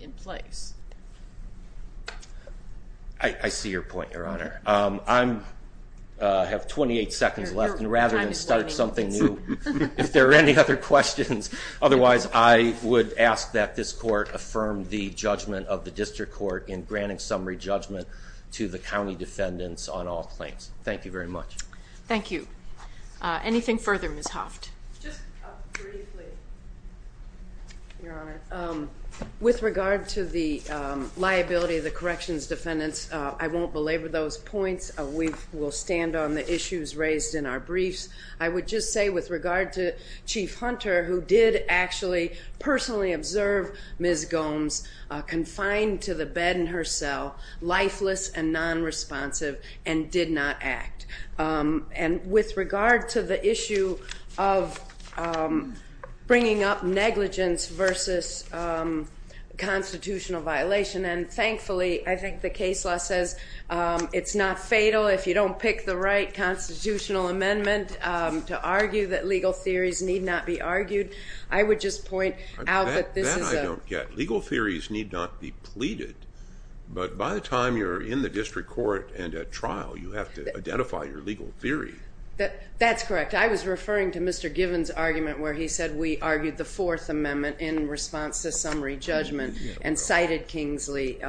in place. I see your point, Your Honor. I have 28 seconds left, and rather than start something new, if there are any other questions, otherwise I would ask that this court affirm the judgment of the district court in granting summary judgment to the county defendants on all claims. Thank you very much. Thank you. Anything further, Ms. Hoft? Just briefly, Your Honor. With regard to the liability of the corrections defendants, I won't belabor those points. We will stand on the issues raised in our briefs. I would just say with regard to Chief Hunter, who did actually personally observe Ms. Gomes confined to the bed in her cell, lifeless and nonresponsive, and did not act. And with regard to the issue of bringing up negligence versus constitutional violation, and thankfully I think the case law says it's not fatal if you don't pick the right constitutional amendment to argue that legal theories need not be argued. I would just point out that this is a... That I don't get. Legal theories need not be pleaded, but by the time you're in the district court and at trial, you have to identify your legal theory. That's correct. I was referring to Mr. Givens' argument where he said we argued the Fourth Amendment in response to summary judgment and cited Kingsley,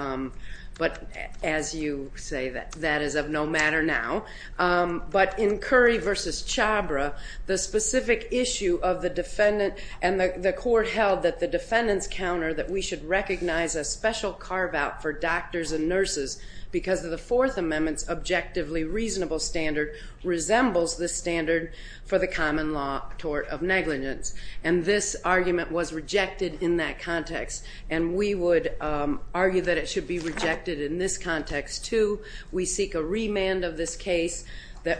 but as you say, that is of no matter now. But in Curry v. Chhabra, the specific issue of the defendant and the court held that the defendants counter that we should recognize a special carve-out for doctors and nurses because of the Fourth Amendment's objectively reasonable standard resembles the standard for the common law tort of negligence. And this argument was rejected in that context. And we would argue that it should be rejected in this context, too. We seek a remand of this case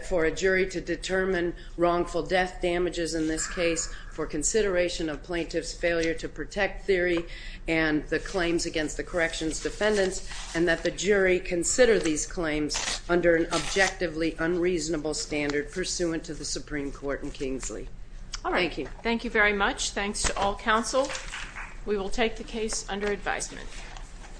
for a jury to determine wrongful death damages in this case for consideration of plaintiff's failure to protect theory and the claims against the corrections defendants and that the jury consider these claims under an objectively unreasonable standard pursuant to the Supreme Court and Kingsley. Thank you. Thank you very much. Thanks to all counsel. We will take the case under advisement.